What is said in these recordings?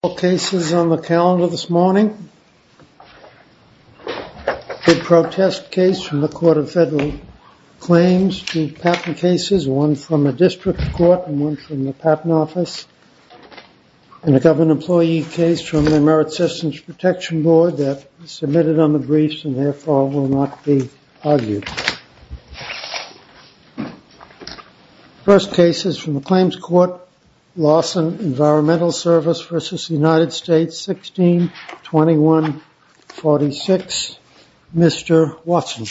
All cases on the calendar this morning, the protest case from the Court of Federal Claims, two patent cases, one from the District Court and one from the Patent Office, and a government employee case from the Merit Systems Protection Board that was submitted on the briefs and therefore will not be argued. First case is from the Claims Court, Lawson Environmental Services v. United States, 1621-46, Mr. Watson.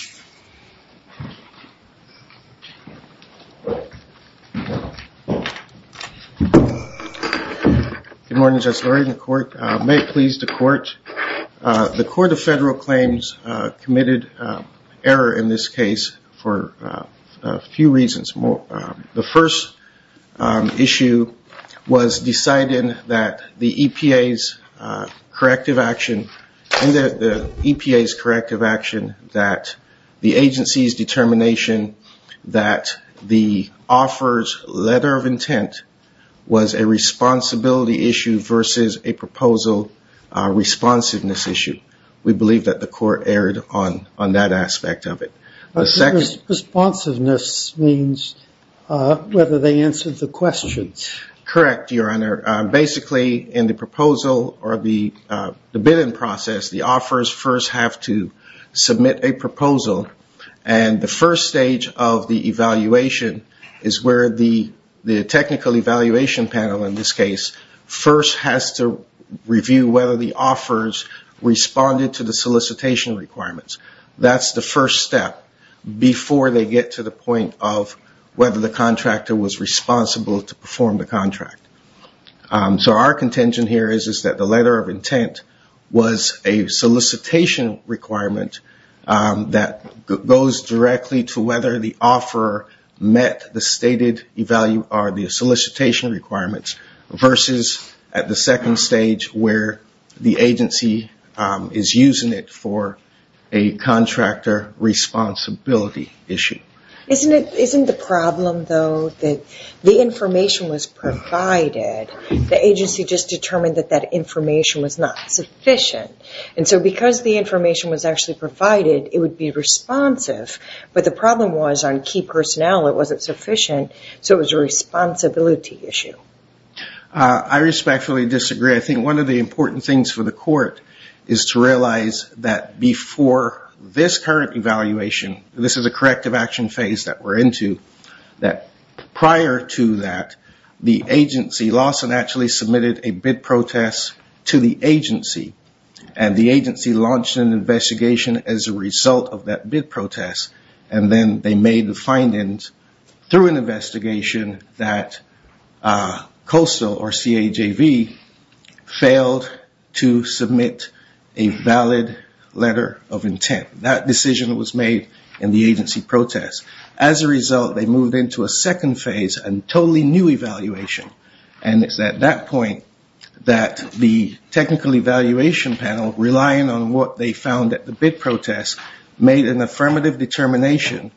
Good morning, Justice Lurie. The Court of Federal Claims committed error in this case for a few reasons. The first issue was deciding that the EPA's corrective action that the agency's determination that the offeror's letter of intent was a responsibility issue versus a proposal responsiveness issue. We believe that the Court erred on that aspect of it. Responsiveness means whether they answered the questions. Correct, Your Honor. Basically, in the proposal or the bidding process, the offerors first have to submit a proposal. And the first stage of the evaluation is where the technical evaluation panel in this case first has to review whether the offerors responded to the solicitation requirements. That's the first step before they get to the point of whether the contractor was responsible to perform the contract. So our contention here is that the letter of intent was a solicitation requirement that goes directly to whether the offeror met the solicitation requirements versus at the second stage where the agency is using it for a contractor responsibility issue. Isn't the problem, though, that the information was provided, the agency just determined that that information was not sufficient? And so because the information was actually provided, it would be responsive, but the problem was on key personnel, it wasn't sufficient, so it was a responsibility issue. I respectfully disagree. I think one of the important things for the Court is to realize that before this current evaluation, this is a corrective action phase that we're into, that prior to that, the agency lost and actually submitted a bid protest to the agency, and the agency launched an investigation as a result of that bid protest, and then they made the findings through an investigation that COASL or CAJV failed to submit a valid letter of intent. That decision was made in the agency protest. As a result, they moved into a second phase, a totally new evaluation, and it's at that point that the technical evaluation panel, relying on what they found at the bid protest, made an affirmative determination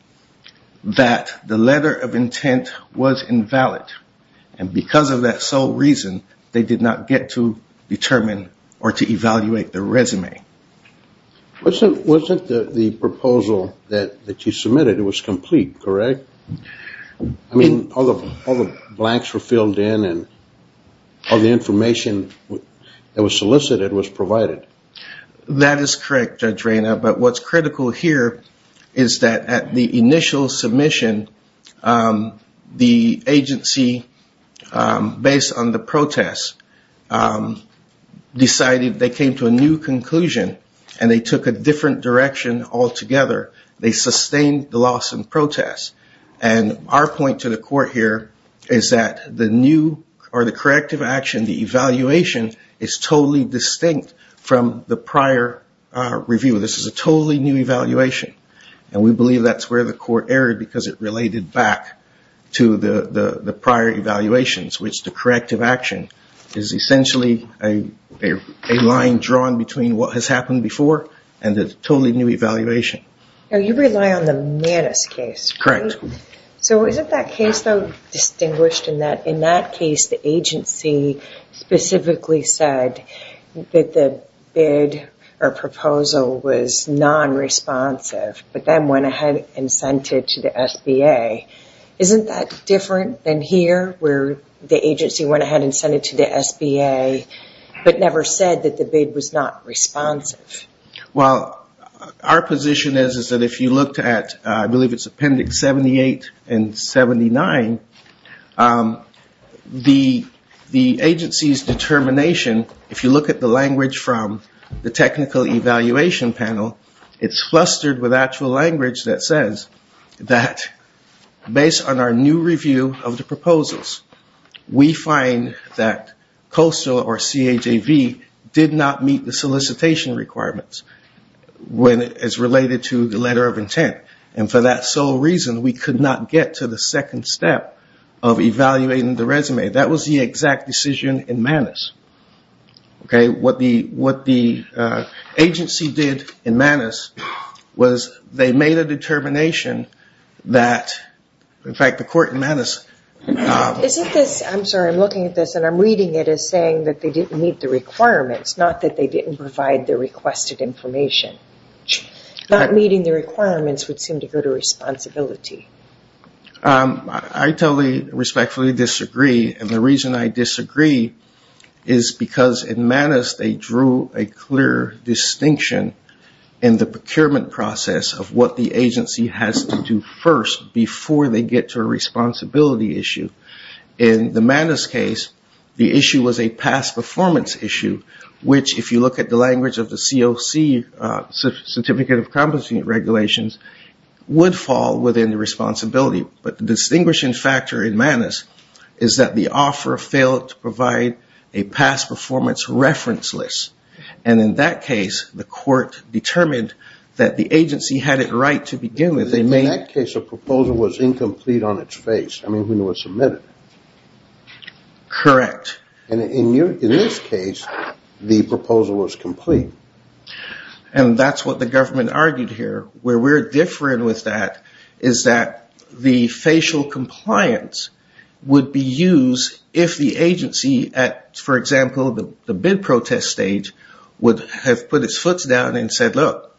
that the letter of intent was invalid, and because of that sole reason, they did not get to determine or to evaluate the resume. Wasn't the proposal that you submitted, it was complete, correct? I mean, all the blanks were filled in and all the information that was solicited was provided. That is correct, Judge Reyna, but what's critical here is that at the initial submission, the agency, based on the protest, decided they came to a new conclusion, and they took a different direction altogether. They sustained the loss in protest, and our point to the Court here is that the new or the corrective action, the evaluation, is totally distinct from the prior review. This is a totally new evaluation, and we believe that's where the Court erred, because it related back to the prior evaluations, which the corrective action is essentially a line drawn between what has happened before and the totally new evaluation. Now, you rely on the Manus case, correct? So is it that case, though, distinguished in that in that case the agency specifically said that the bid or proposal was non-responsive, but then went ahead and sent it to the SBA? Isn't that different than here, where the agency went ahead and sent it to the SBA, but never said that the bid was not responsive? Well, our position is that if you looked at, I believe it's Appendix 78 and 79, the agency's determination, if you look at the language from the Technical Evaluation Panel, it's flustered with actual language that says that based on our new review of the proposals, we find that COSO or CAJV did not meet the solicitation requirements as related to the letter of intent. And for that sole reason, we could not get to the second step of evaluating the resume. That was the exact decision in Manus. What the agency did in Manus was they made a determination that, in fact, the court in Manus... I'm sorry, I'm looking at this and I'm reading it as saying that they didn't meet the requirements, not that they didn't provide the requested information. Not meeting the requirements would seem to go to responsibility. I totally, respectfully disagree. And the reason I disagree is because in Manus, they drew a clear distinction in the procurement process of what the agency has to do first before they get to a responsibility issue. In the Manus case, the issue was a past performance issue, which if you look at the language of the COC, Certificate of Compensating Regulations, would fall within the responsibility. But the distinguishing factor in Manus is that the offer failed to provide a past performance reference list. And in that case, the court determined that the agency had it right to begin with. In that case, a proposal was incomplete on its face. I mean, when it was submitted. Correct. And in this case, the proposal was complete. And that's what the government argued here. Where we're different with that is that the facial compliance would be used if the agency, for example, the bid protest stage, would have put its foot down and said, look,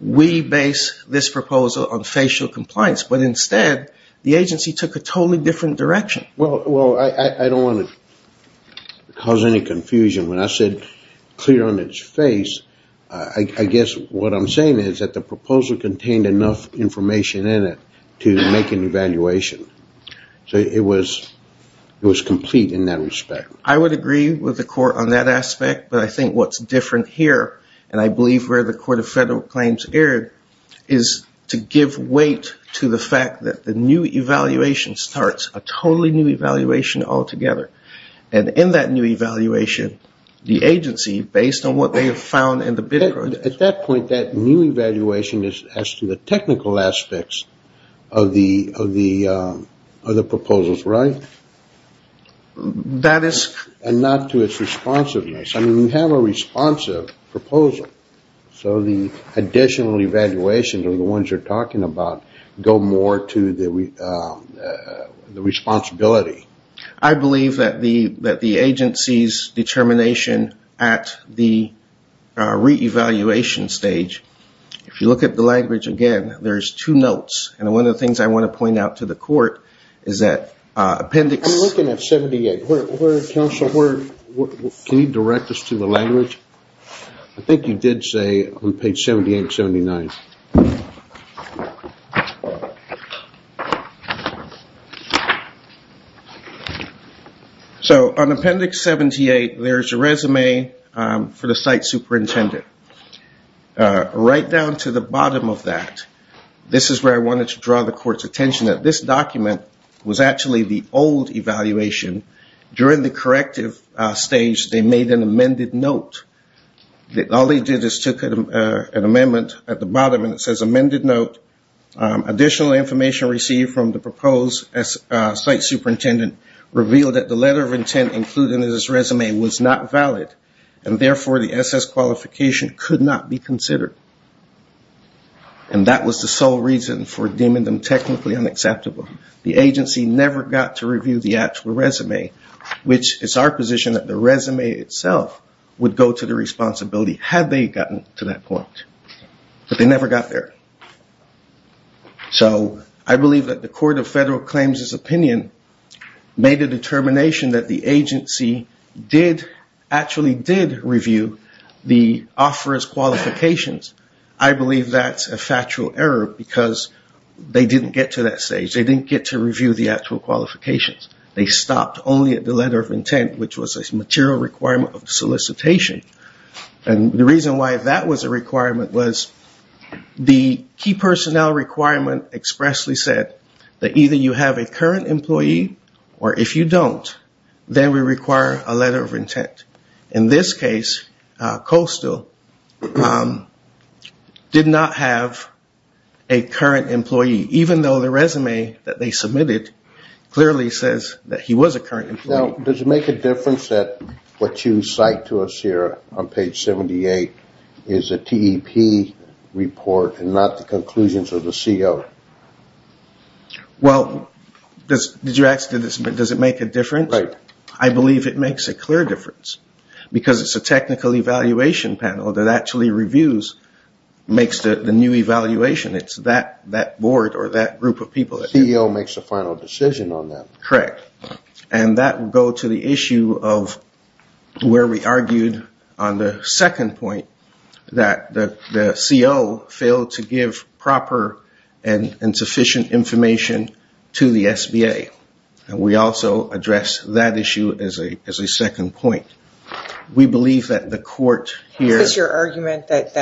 we base this proposal on facial compliance. But instead, the agency took a totally different direction. Well, I don't want to cause any confusion. When I said clear on its face, I guess what I'm saying is that the proposal contained enough information in it to make an evaluation. So it was complete in that respect. I would agree with the court on that aspect. But I think what's different here, and I believe where the Court of Federal Claims erred, is to give weight to the fact that the new evaluation starts a totally new evaluation altogether. And in that new evaluation, the agency, based on what they have found in the bid process. At that point, that new evaluation is as to the technical aspects of the proposals, right? And not to its responsiveness. I mean, we have a responsive proposal. So the additional evaluations are the ones you're talking about go more to the responsibility. I believe that the agency's determination at the re-evaluation stage, if you look at the language again, there's two notes. And one of the things I want to point out to the court is that appendix... I'm looking at 78. Counsel, can you direct us to the language? I think you did say on page 78 and 79. So on appendix 78, there's a resume for the site superintendent. Right down to the bottom of that, this is where I wanted to draw the court's attention, that this document was actually the old evaluation. During the corrective stage, they made an amended note. All they did is took an amendment at the bottom and it says, amended note. Additional information received from the proposed site superintendent revealed that the letter of intent included in this resume was not valid. And therefore, the SS qualification could not be considered. And that was the sole reason for deeming them technically unacceptable. The agency never got to review the actual resume, which is our position that the resume itself would go to the responsibility had they gotten to that point. But they never got there. So I believe that the Court of Federal Claims' opinion made a determination that the agency actually did review the offeror's qualifications. I believe that's a factual error because they didn't get to that stage. They didn't get to review the actual qualifications. They stopped only at the letter of intent, which was a material requirement of solicitation. And the reason why that was a requirement was the key personnel requirement expressly said that either you have a current employee or if you don't, then we require a letter of intent. In this case, Coastal did not have a current employee, even though the resume that they submitted clearly says that he was a current employee. Now, does it make a difference that what you cite to us here on page 78 is a TEP report and not the conclusions of the CO? Well, did you ask, does it make a difference? I believe it makes a clear difference because it's a technical evaluation panel that actually reviews, makes the new evaluation. It's that board or that group of people. The CO makes the final decision on that. Correct. And that would go to the issue of where we argued on the second point that the CO failed to give proper and sufficient information to the SBA. And we also address that issue as a second point. We believe that the court here... Is this your argument that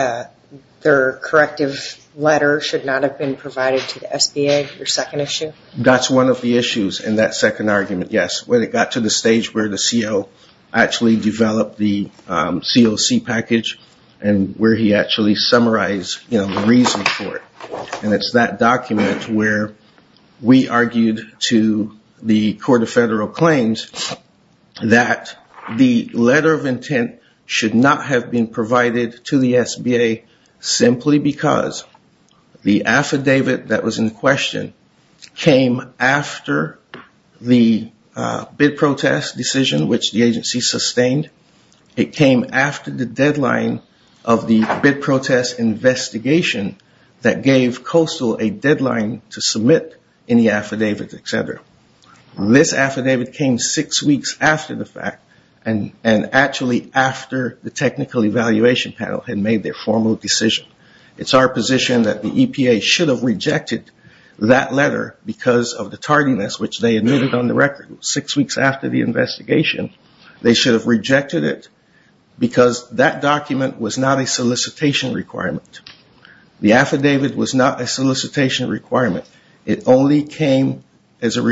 their corrective letter should not have been provided to the SBA, your second issue? That's one of the issues in that second argument, yes. When it got to the stage where the CO actually developed the COC package and where he actually summarized the reason for it. And it's that document where we argued to the Court of Federal Claims that the letter of intent should not have been provided to the SBA simply because the affidavit that was in question came after the bid protest decision, which the agency sustained. It came after the deadline of the bid protest investigation that gave COCEL a deadline to submit any affidavit, et cetera. This affidavit came six weeks after the fact and actually after the technical evaluation panel had made their formal decision. It's our position that the EPA should have rejected that letter because of the tardiness, which they admitted on the record. Six weeks after the investigation, they should have rejected it because that document was not a solicitation requirement. The affidavit was not a solicitation requirement. It only came as a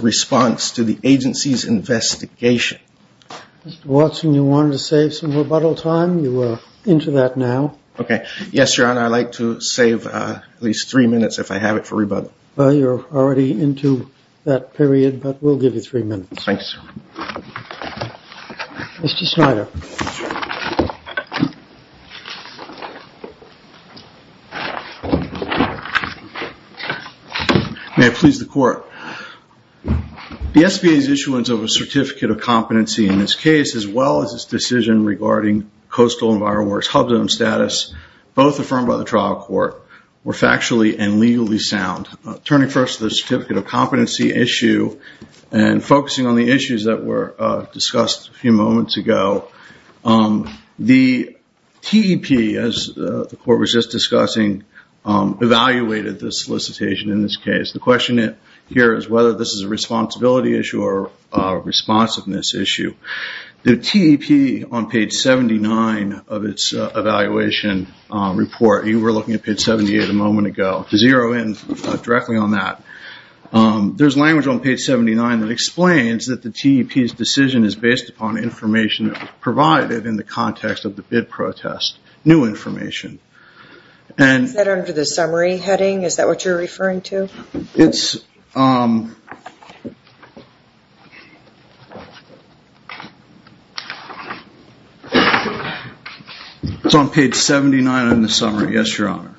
response to the agency's investigation. Mr. Watson, you wanted to save some rebuttal time. You are into that now. Okay. Yes, Your Honor, I like to save at least three minutes if I have it for rebuttal. Well, you're already into that period, but we'll give you three minutes. Thank you, sir. Mr. Snyder. May it please the Court. The SBA's issuance of a Certificate of Competency in this case, as well as its decision regarding Coastal Environmental Works HUBZone status, both affirmed by the trial court, were factually and legally sound. Turning first to the Certificate of Competency issue and focusing on the issues that were discussed a few moments ago, the TEP, as the Court was just discussing, evaluated the solicitation in this case. The question here is whether this is a responsibility issue or a responsiveness issue. The TEP on page 79 of its evaluation report, you were looking at page 78 a moment ago, to zero in directly on that, there's language on page 79 that explains that the TEP's decision is based upon information provided in the context of the bid protest, new information. Is that under the summary heading? Is that what you're referring to? It's on page 79 in the summary, yes, Your Honor.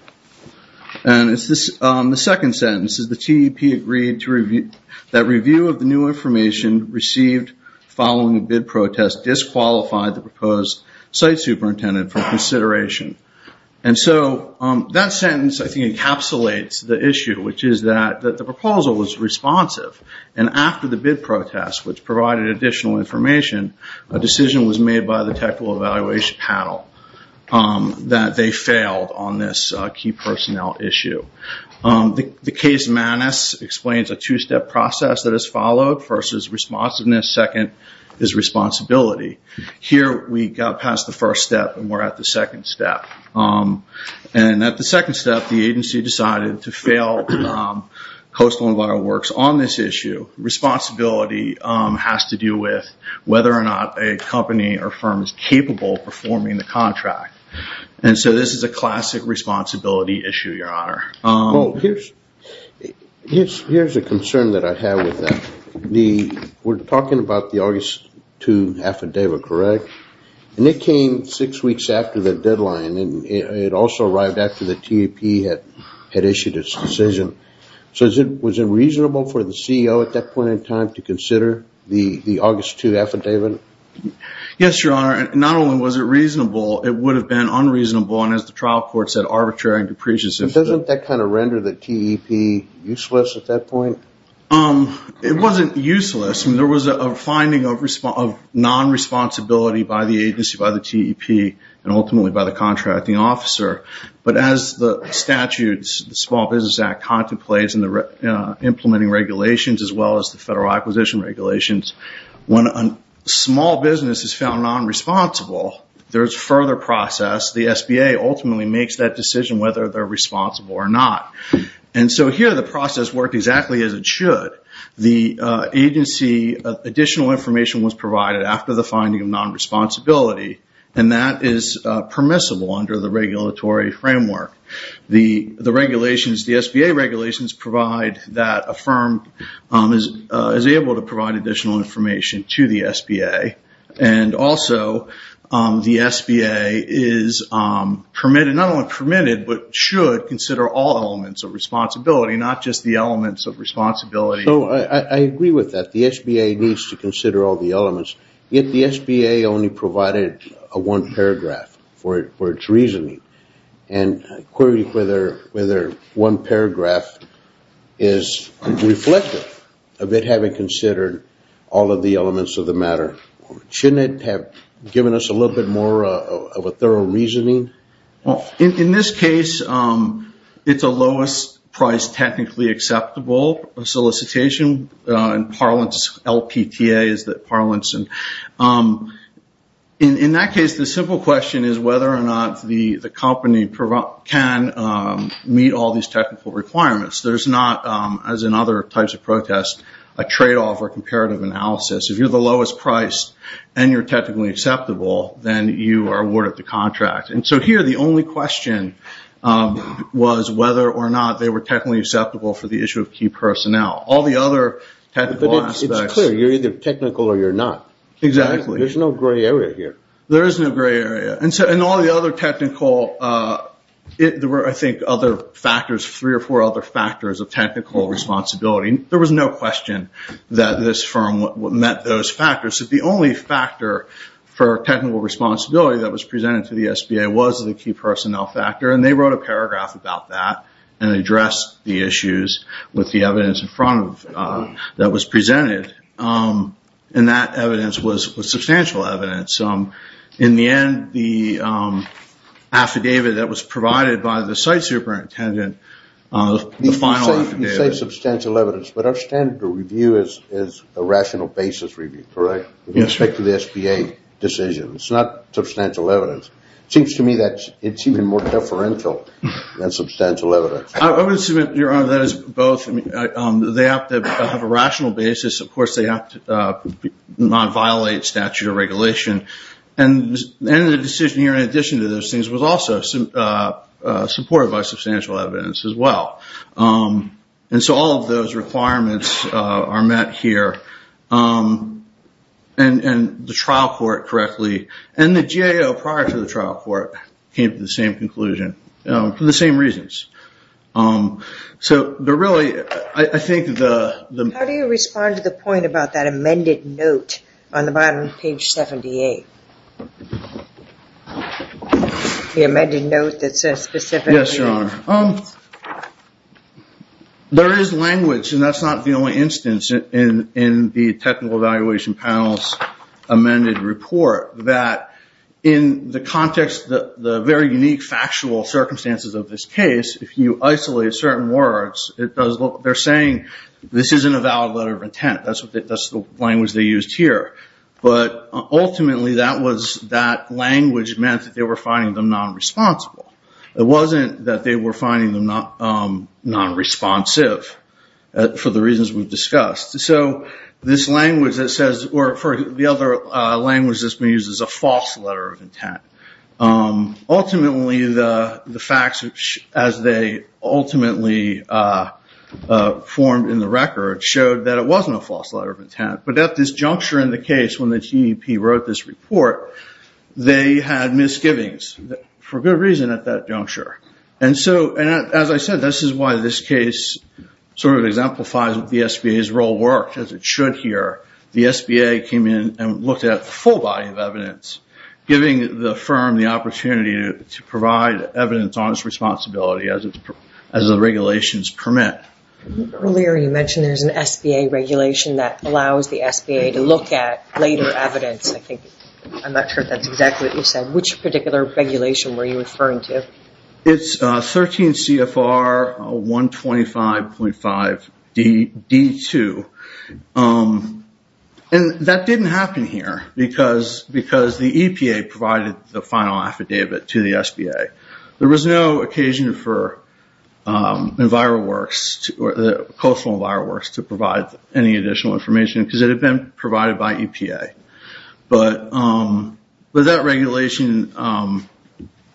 And the second sentence is, the TEP agreed that review of the new information received following the bid protest disqualified the proposed site superintendent from consideration. And so that sentence, I think, encapsulates the issue, which is that the proposal was responsive. And after the bid protest, which provided additional information, a decision was made by the technical evaluation panel that they failed on this key personnel issue. The case manus explains a two-step process that is followed. First is responsiveness, second is responsibility. Here, we got past the first step and we're at the second step. And at the second step, the agency decided to fail Coastal EnviroWorks on this issue. Responsibility has to do with whether or not a company or firm is capable of performing the contract. And so this is a classic responsibility issue, Your Honor. Here's a concern that I have with that. We're talking about the August 2 affidavit, correct? And it came six weeks after the deadline, and it also arrived after the TEP had issued its decision. So was it reasonable for the CEO at that point in time to consider the August 2 affidavit? Yes, Your Honor. Not only was it reasonable, it would have been unreasonable and, as the trial court said, arbitrary and depreciative. Doesn't that kind of render the TEP useless at that point? It wasn't useless. There was a finding of non-responsibility by the agency, by the TEP, and ultimately by the contracting officer. But as the statutes, the Small Business Act contemplates in implementing regulations as well as the federal acquisition regulations, when a small business is found non-responsible, there's further process. The SBA ultimately makes that decision whether they're responsible or not. And so here the process worked exactly as it should. The agency, additional information was provided after the finding of non-responsibility, and that is permissible under the regulatory framework. The regulations, the SBA regulations, provide that a firm is able to provide additional information to the SBA. And also the SBA is permitted, not only permitted, but should consider all elements of responsibility, not just the elements of responsibility. So I agree with that. The SBA needs to consider all the elements. Yet the SBA only provided a one paragraph for its reasoning. And I query whether one paragraph is reflective of it having considered all of the elements of the matter. Shouldn't it have given us a little bit more of a thorough reasoning? In this case, it's a lowest price technically acceptable solicitation. In parlance, LPTA is the parlance. In that case, the simple question is whether or not the company can meet all these technical requirements. There's not, as in other types of protests, a tradeoff or comparative analysis. If you're the lowest price and you're technically acceptable, then you are awarded the contract. And so here the only question was whether or not they were technically acceptable for the issue of key personnel. All the other technical aspects. But it's clear. You're either technical or you're not. Exactly. There's no gray area here. There is no gray area. And so in all the other technical, there were, I think, other factors, three or four other factors of technical responsibility. There was no question that this firm met those factors. The only factor for technical responsibility that was presented to the SBA was the key personnel factor. And they wrote a paragraph about that and addressed the issues with the evidence in front of them that was presented. And that evidence was substantial evidence. In the end, the affidavit that was provided by the site superintendent, the final affidavit. You say substantial evidence, but our standard of review is a rational basis review. Correct. With respect to the SBA decisions. It's not substantial evidence. It seems to me that it's even more deferential than substantial evidence. I would submit, Your Honor, that is both. They have to have a rational basis. Of course, they have to not violate statute of regulation. And the decision here, in addition to those things, was also supported by substantial evidence as well. And so all of those requirements are met here. And the trial court correctly, and the GAO prior to the trial court, came to the same conclusion. For the same reasons. So really, I think the... How do you respond to the point about that amended note on the bottom of page 78? The amended note that says specific... Yes, Your Honor. There is language, and that's not the only instance in the technical evaluation panel's amended report, that in the context, the very unique factual circumstances of this case, if you isolate certain words, they're saying this isn't a valid letter of intent. That's the language they used here. But ultimately, that language meant that they were finding them non-responsible. It wasn't that they were finding them non-responsive, for the reasons we've discussed. So this language that says... Or the other language that's been used is a false letter of intent. Ultimately, the facts, as they ultimately formed in the record, showed that it wasn't a false letter of intent. But at this juncture in the case, when the TEP wrote this report, they had misgivings. For good reason, at that juncture. And so, as I said, this is why this case sort of exemplifies that the SBA's role worked, as it should here. The SBA came in and looked at the full body of evidence, giving the firm the opportunity to provide evidence on its responsibility as the regulations permit. Earlier, you mentioned there's an SBA regulation that allows the SBA to look at later evidence. I'm not sure if that's exactly what you said. Which particular regulation were you referring to? It's 13 CFR 125.5 D2. And that didn't happen here, because the EPA provided the final affidavit to the SBA. There was no occasion for EnviroWorks, Coastal EnviroWorks, to provide any additional information, because it had been provided by EPA. But that regulation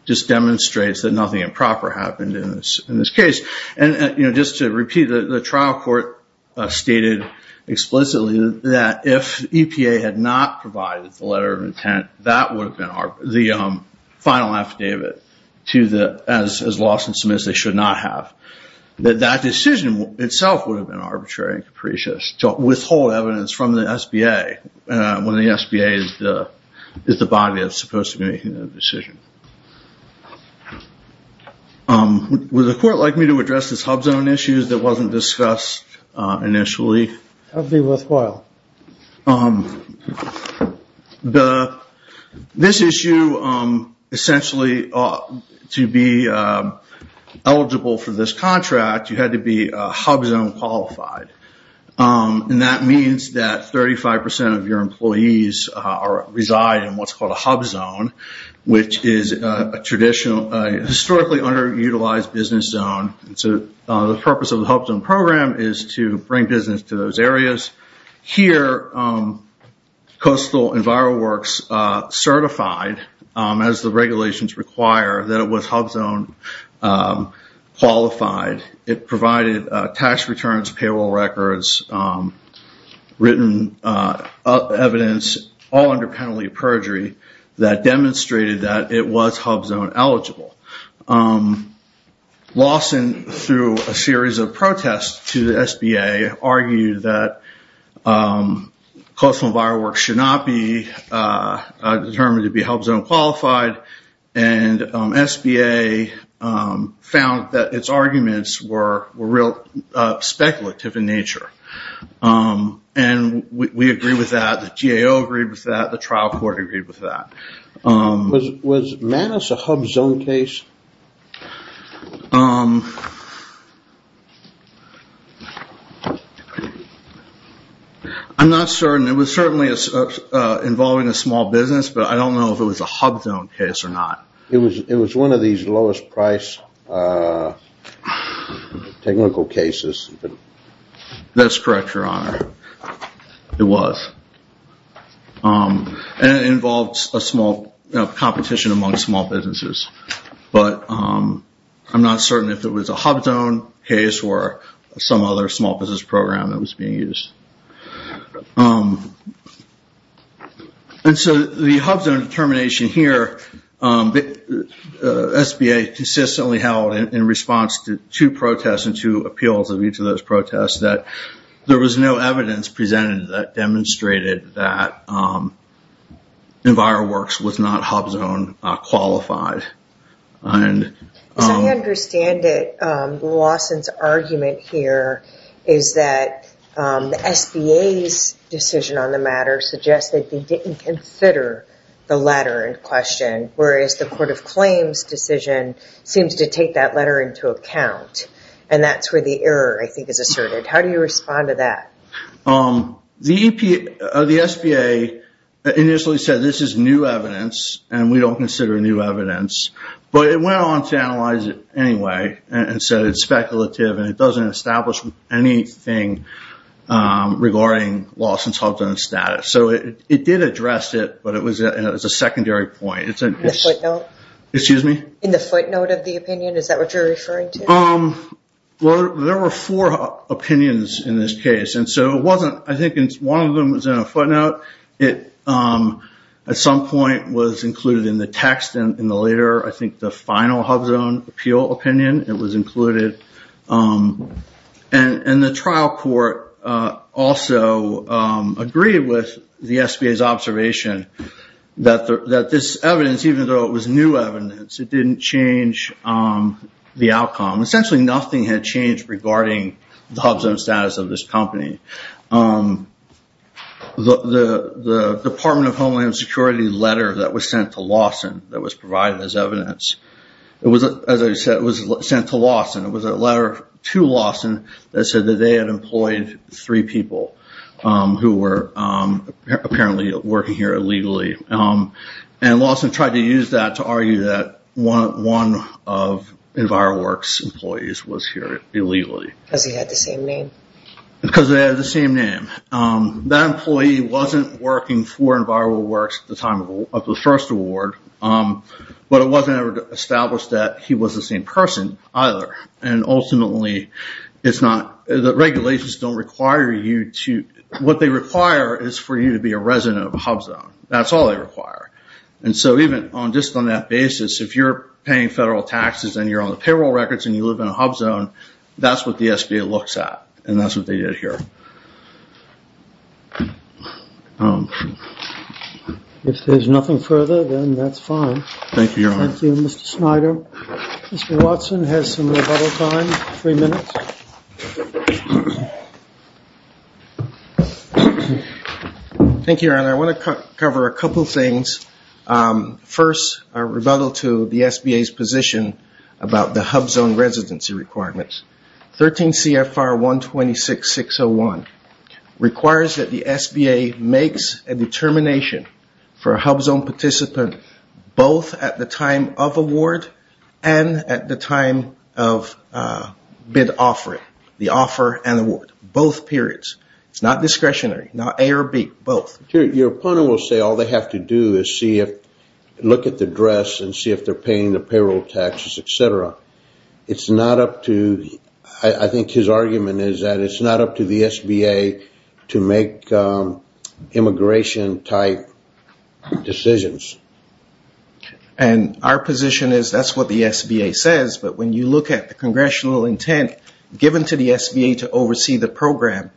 just demonstrates that nothing improper happened in this case. And just to repeat, the trial court stated explicitly that if EPA had not provided the letter of intent, that would have been the final affidavit, as Lawson submits, they should not have. That decision itself would have been arbitrary and capricious to withhold evidence from the SBA, when the SBA is the body that's supposed to be making the decision. Would the court like me to address this HUBZone issue that wasn't discussed initially? That would be worthwhile. This issue, essentially, to be eligible for this contract, you had to be HUBZone qualified. And that means that 35% of your employees reside in what's called a HUBZone, which is a historically underutilized business zone. The purpose of the HUBZone program is to bring business to those areas. Here, Coastal EnviroWorks certified, as the regulations require, that it was HUBZone qualified. It provided tax returns, payroll records, written evidence, all under penalty of perjury, that demonstrated that it was HUBZone eligible. Lawson, through a series of protests to the SBA, argued that Coastal EnviroWorks should not be determined to be HUBZone qualified. And SBA found that its arguments were real speculative in nature. And we agree with that. The GAO agreed with that. The trial court agreed with that. Was MANUS a HUBZone case? I'm not certain. It was certainly involving a small business, but I don't know if it was a HUBZone case or not. It was one of these lowest price technical cases. That's correct, Your Honor. It was. And it involved a small competition among small businesses. But I'm not certain if it was a HUBZone case or some other small business program that was being used. And so the HUBZone determination here, SBA consistently held, in response to two protests and two appeals of each of those protests, that there was no evidence presented that demonstrated that EnviroWorks was not HUBZone qualified. As I understand it, Lawson's argument here is that the SBA's decision on the matter suggests that they didn't consider the letter in question, whereas the Court of Claims' decision seems to take that letter into account. And that's where the error, I think, is asserted. How do you respond to that? The SBA initially said this is new evidence and we don't consider new evidence. But it went on to analyze it anyway and said it's speculative and it doesn't establish anything regarding Lawson's HUBZone status. So it did address it, but it was a secondary point. In the footnote? Excuse me? In the footnote of the opinion? Is that what you're referring to? Well, there were four opinions in this case. And so it wasn't, I think, one of them was in a footnote. It, at some point, was included in the text and in the later, I think, the final HUBZone appeal opinion, it was included. And the trial court also agreed with the SBA's observation that this evidence, even though it was new evidence, it didn't change the outcome. Essentially, nothing had changed regarding the HUBZone status of this company. The Department of Homeland Security letter that was sent to Lawson that was provided as evidence, as I said, was sent to Lawson. It was a letter to Lawson that said that they had employed three people who were apparently working here illegally. And Lawson tried to use that to argue that one of EnviroWorks' employees was here illegally. Because he had the same name. Because they had the same name. That employee wasn't working for EnviroWorks at the time of the first award, but it wasn't ever established that he was the same person either. And ultimately, it's not, the regulations don't require you to, what they require is for you to be a resident of a HUBZone. That's all they require. And so even just on that basis, if you're paying federal taxes and you're on the payroll records and you live in a HUBZone, that's what the SBA looks at. And that's what they did here. If there's nothing further, then that's fine. Thank you, Your Honor. Thank you, Mr. Snyder. Mr. Watson has some rebuttal time, three minutes. Thank you, Your Honor. I want to cover a couple things. First, a rebuttal to the SBA's position about the HUBZone residency requirements. 13 CFR 126601 requires that the SBA makes a determination for a HUBZone participant both at the time of award and at the time of bid offering, the offer and award, both periods. It's not discretionary, not A or B, both. Your opponent will say all they have to do is look at the address and see if they're paying the payroll taxes, et cetera. It's not up to, I think his argument is that it's not up to the SBA to make immigration-type decisions. And our position is that's what the SBA says, but when you look at the congressional intent given to the SBA to oversee the program,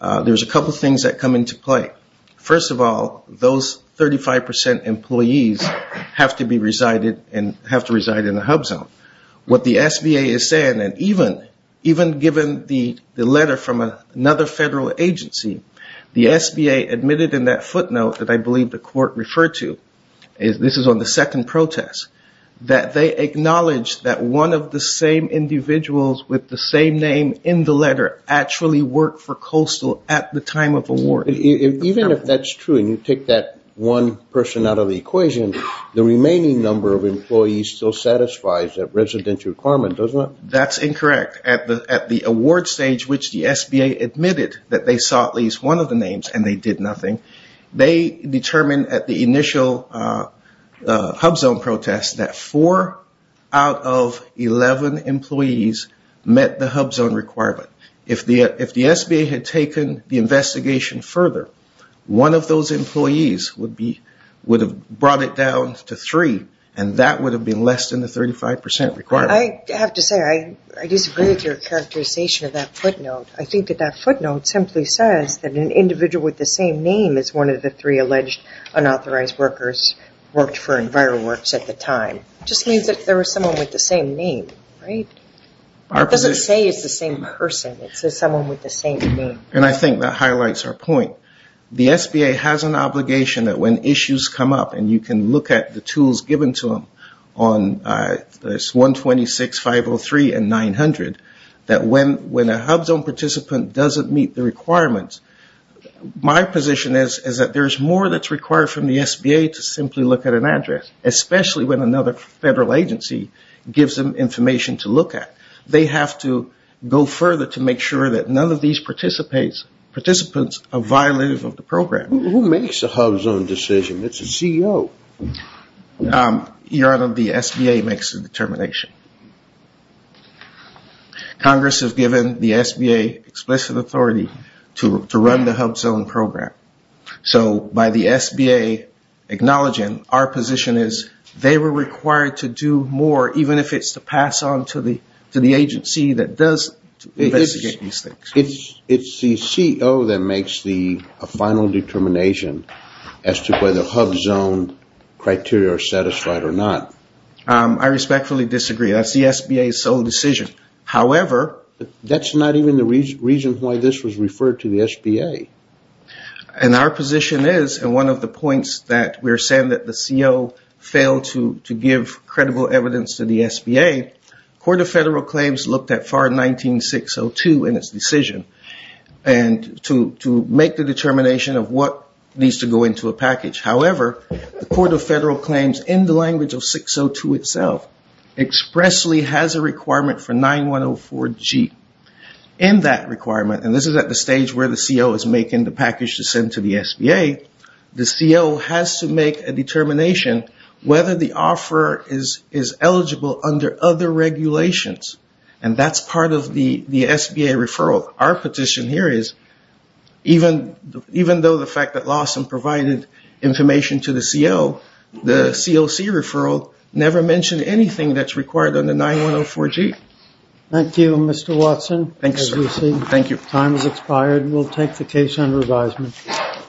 there's a couple things that come into play. First of all, those 35% employees have to reside in a HUBZone. What the SBA is saying, and even given the letter from another federal agency, the SBA admitted in that footnote that I believe the court referred to, this is on the second protest, that they acknowledge that one of the same individuals with the same name in the letter actually worked for Coastal at the time of award. Even if that's true and you take that one person out of the equation, the remaining number of employees still satisfies that residential requirement, doesn't it? That's incorrect. At the award stage, which the SBA admitted that they saw at least one of the names and they did nothing, they determined at the initial HUBZone protest that four out of 11 employees met the HUBZone requirement. If the SBA had taken the investigation further, one of those employees would have brought it down to three and that would have been less than the 35% requirement. I have to say I disagree with your characterization of that footnote. I think that that footnote simply says that an individual with the same name as one of the three alleged unauthorized workers worked for EnviroWorks at the time. It just means that there was someone with the same name, right? It doesn't say it's the same person. It says someone with the same name. I think that highlights our point. The SBA has an obligation that when issues come up and you can look at the tools given to them on 126.503 and 900, that when a HUBZone participant doesn't meet the requirements, my position is that there's more that's required from the SBA to simply look at an address, especially when another federal agency gives them information to look at. They have to go further to make sure that none of these participants are violative of the program. Who makes the HUBZone decision? It's the CEO. Your Honor, the SBA makes the determination. Congress has given the SBA explicit authority to run the HUBZone program. So by the SBA acknowledging, our position is they were required to do more, even if it's to pass on to the agency that does investigate these things. It's the CEO that makes the final determination as to whether HUBZone criteria are satisfied or not. I respectfully disagree. That's the SBA's sole decision. However, that's not even the reason why this was referred to the SBA. And our position is, and one of the points that we're saying that the CEO failed to give credible evidence to the SBA, Court of Federal Claims looked at FAR 19602 in its decision to make the determination of what needs to go into a package. However, the Court of Federal Claims in the language of 602 itself expressly has a requirement for 9104G. In that requirement, and this is at the stage where the CEO is making the package to send to the SBA, the CEO has to make a determination whether the offeror is eligible under other regulations. And that's part of the SBA referral. Our petition here is, even though the fact that Lawson provided information to the CEO, the COC referral never mentioned anything that's required under 9104G. Thank you, Mr. Watson.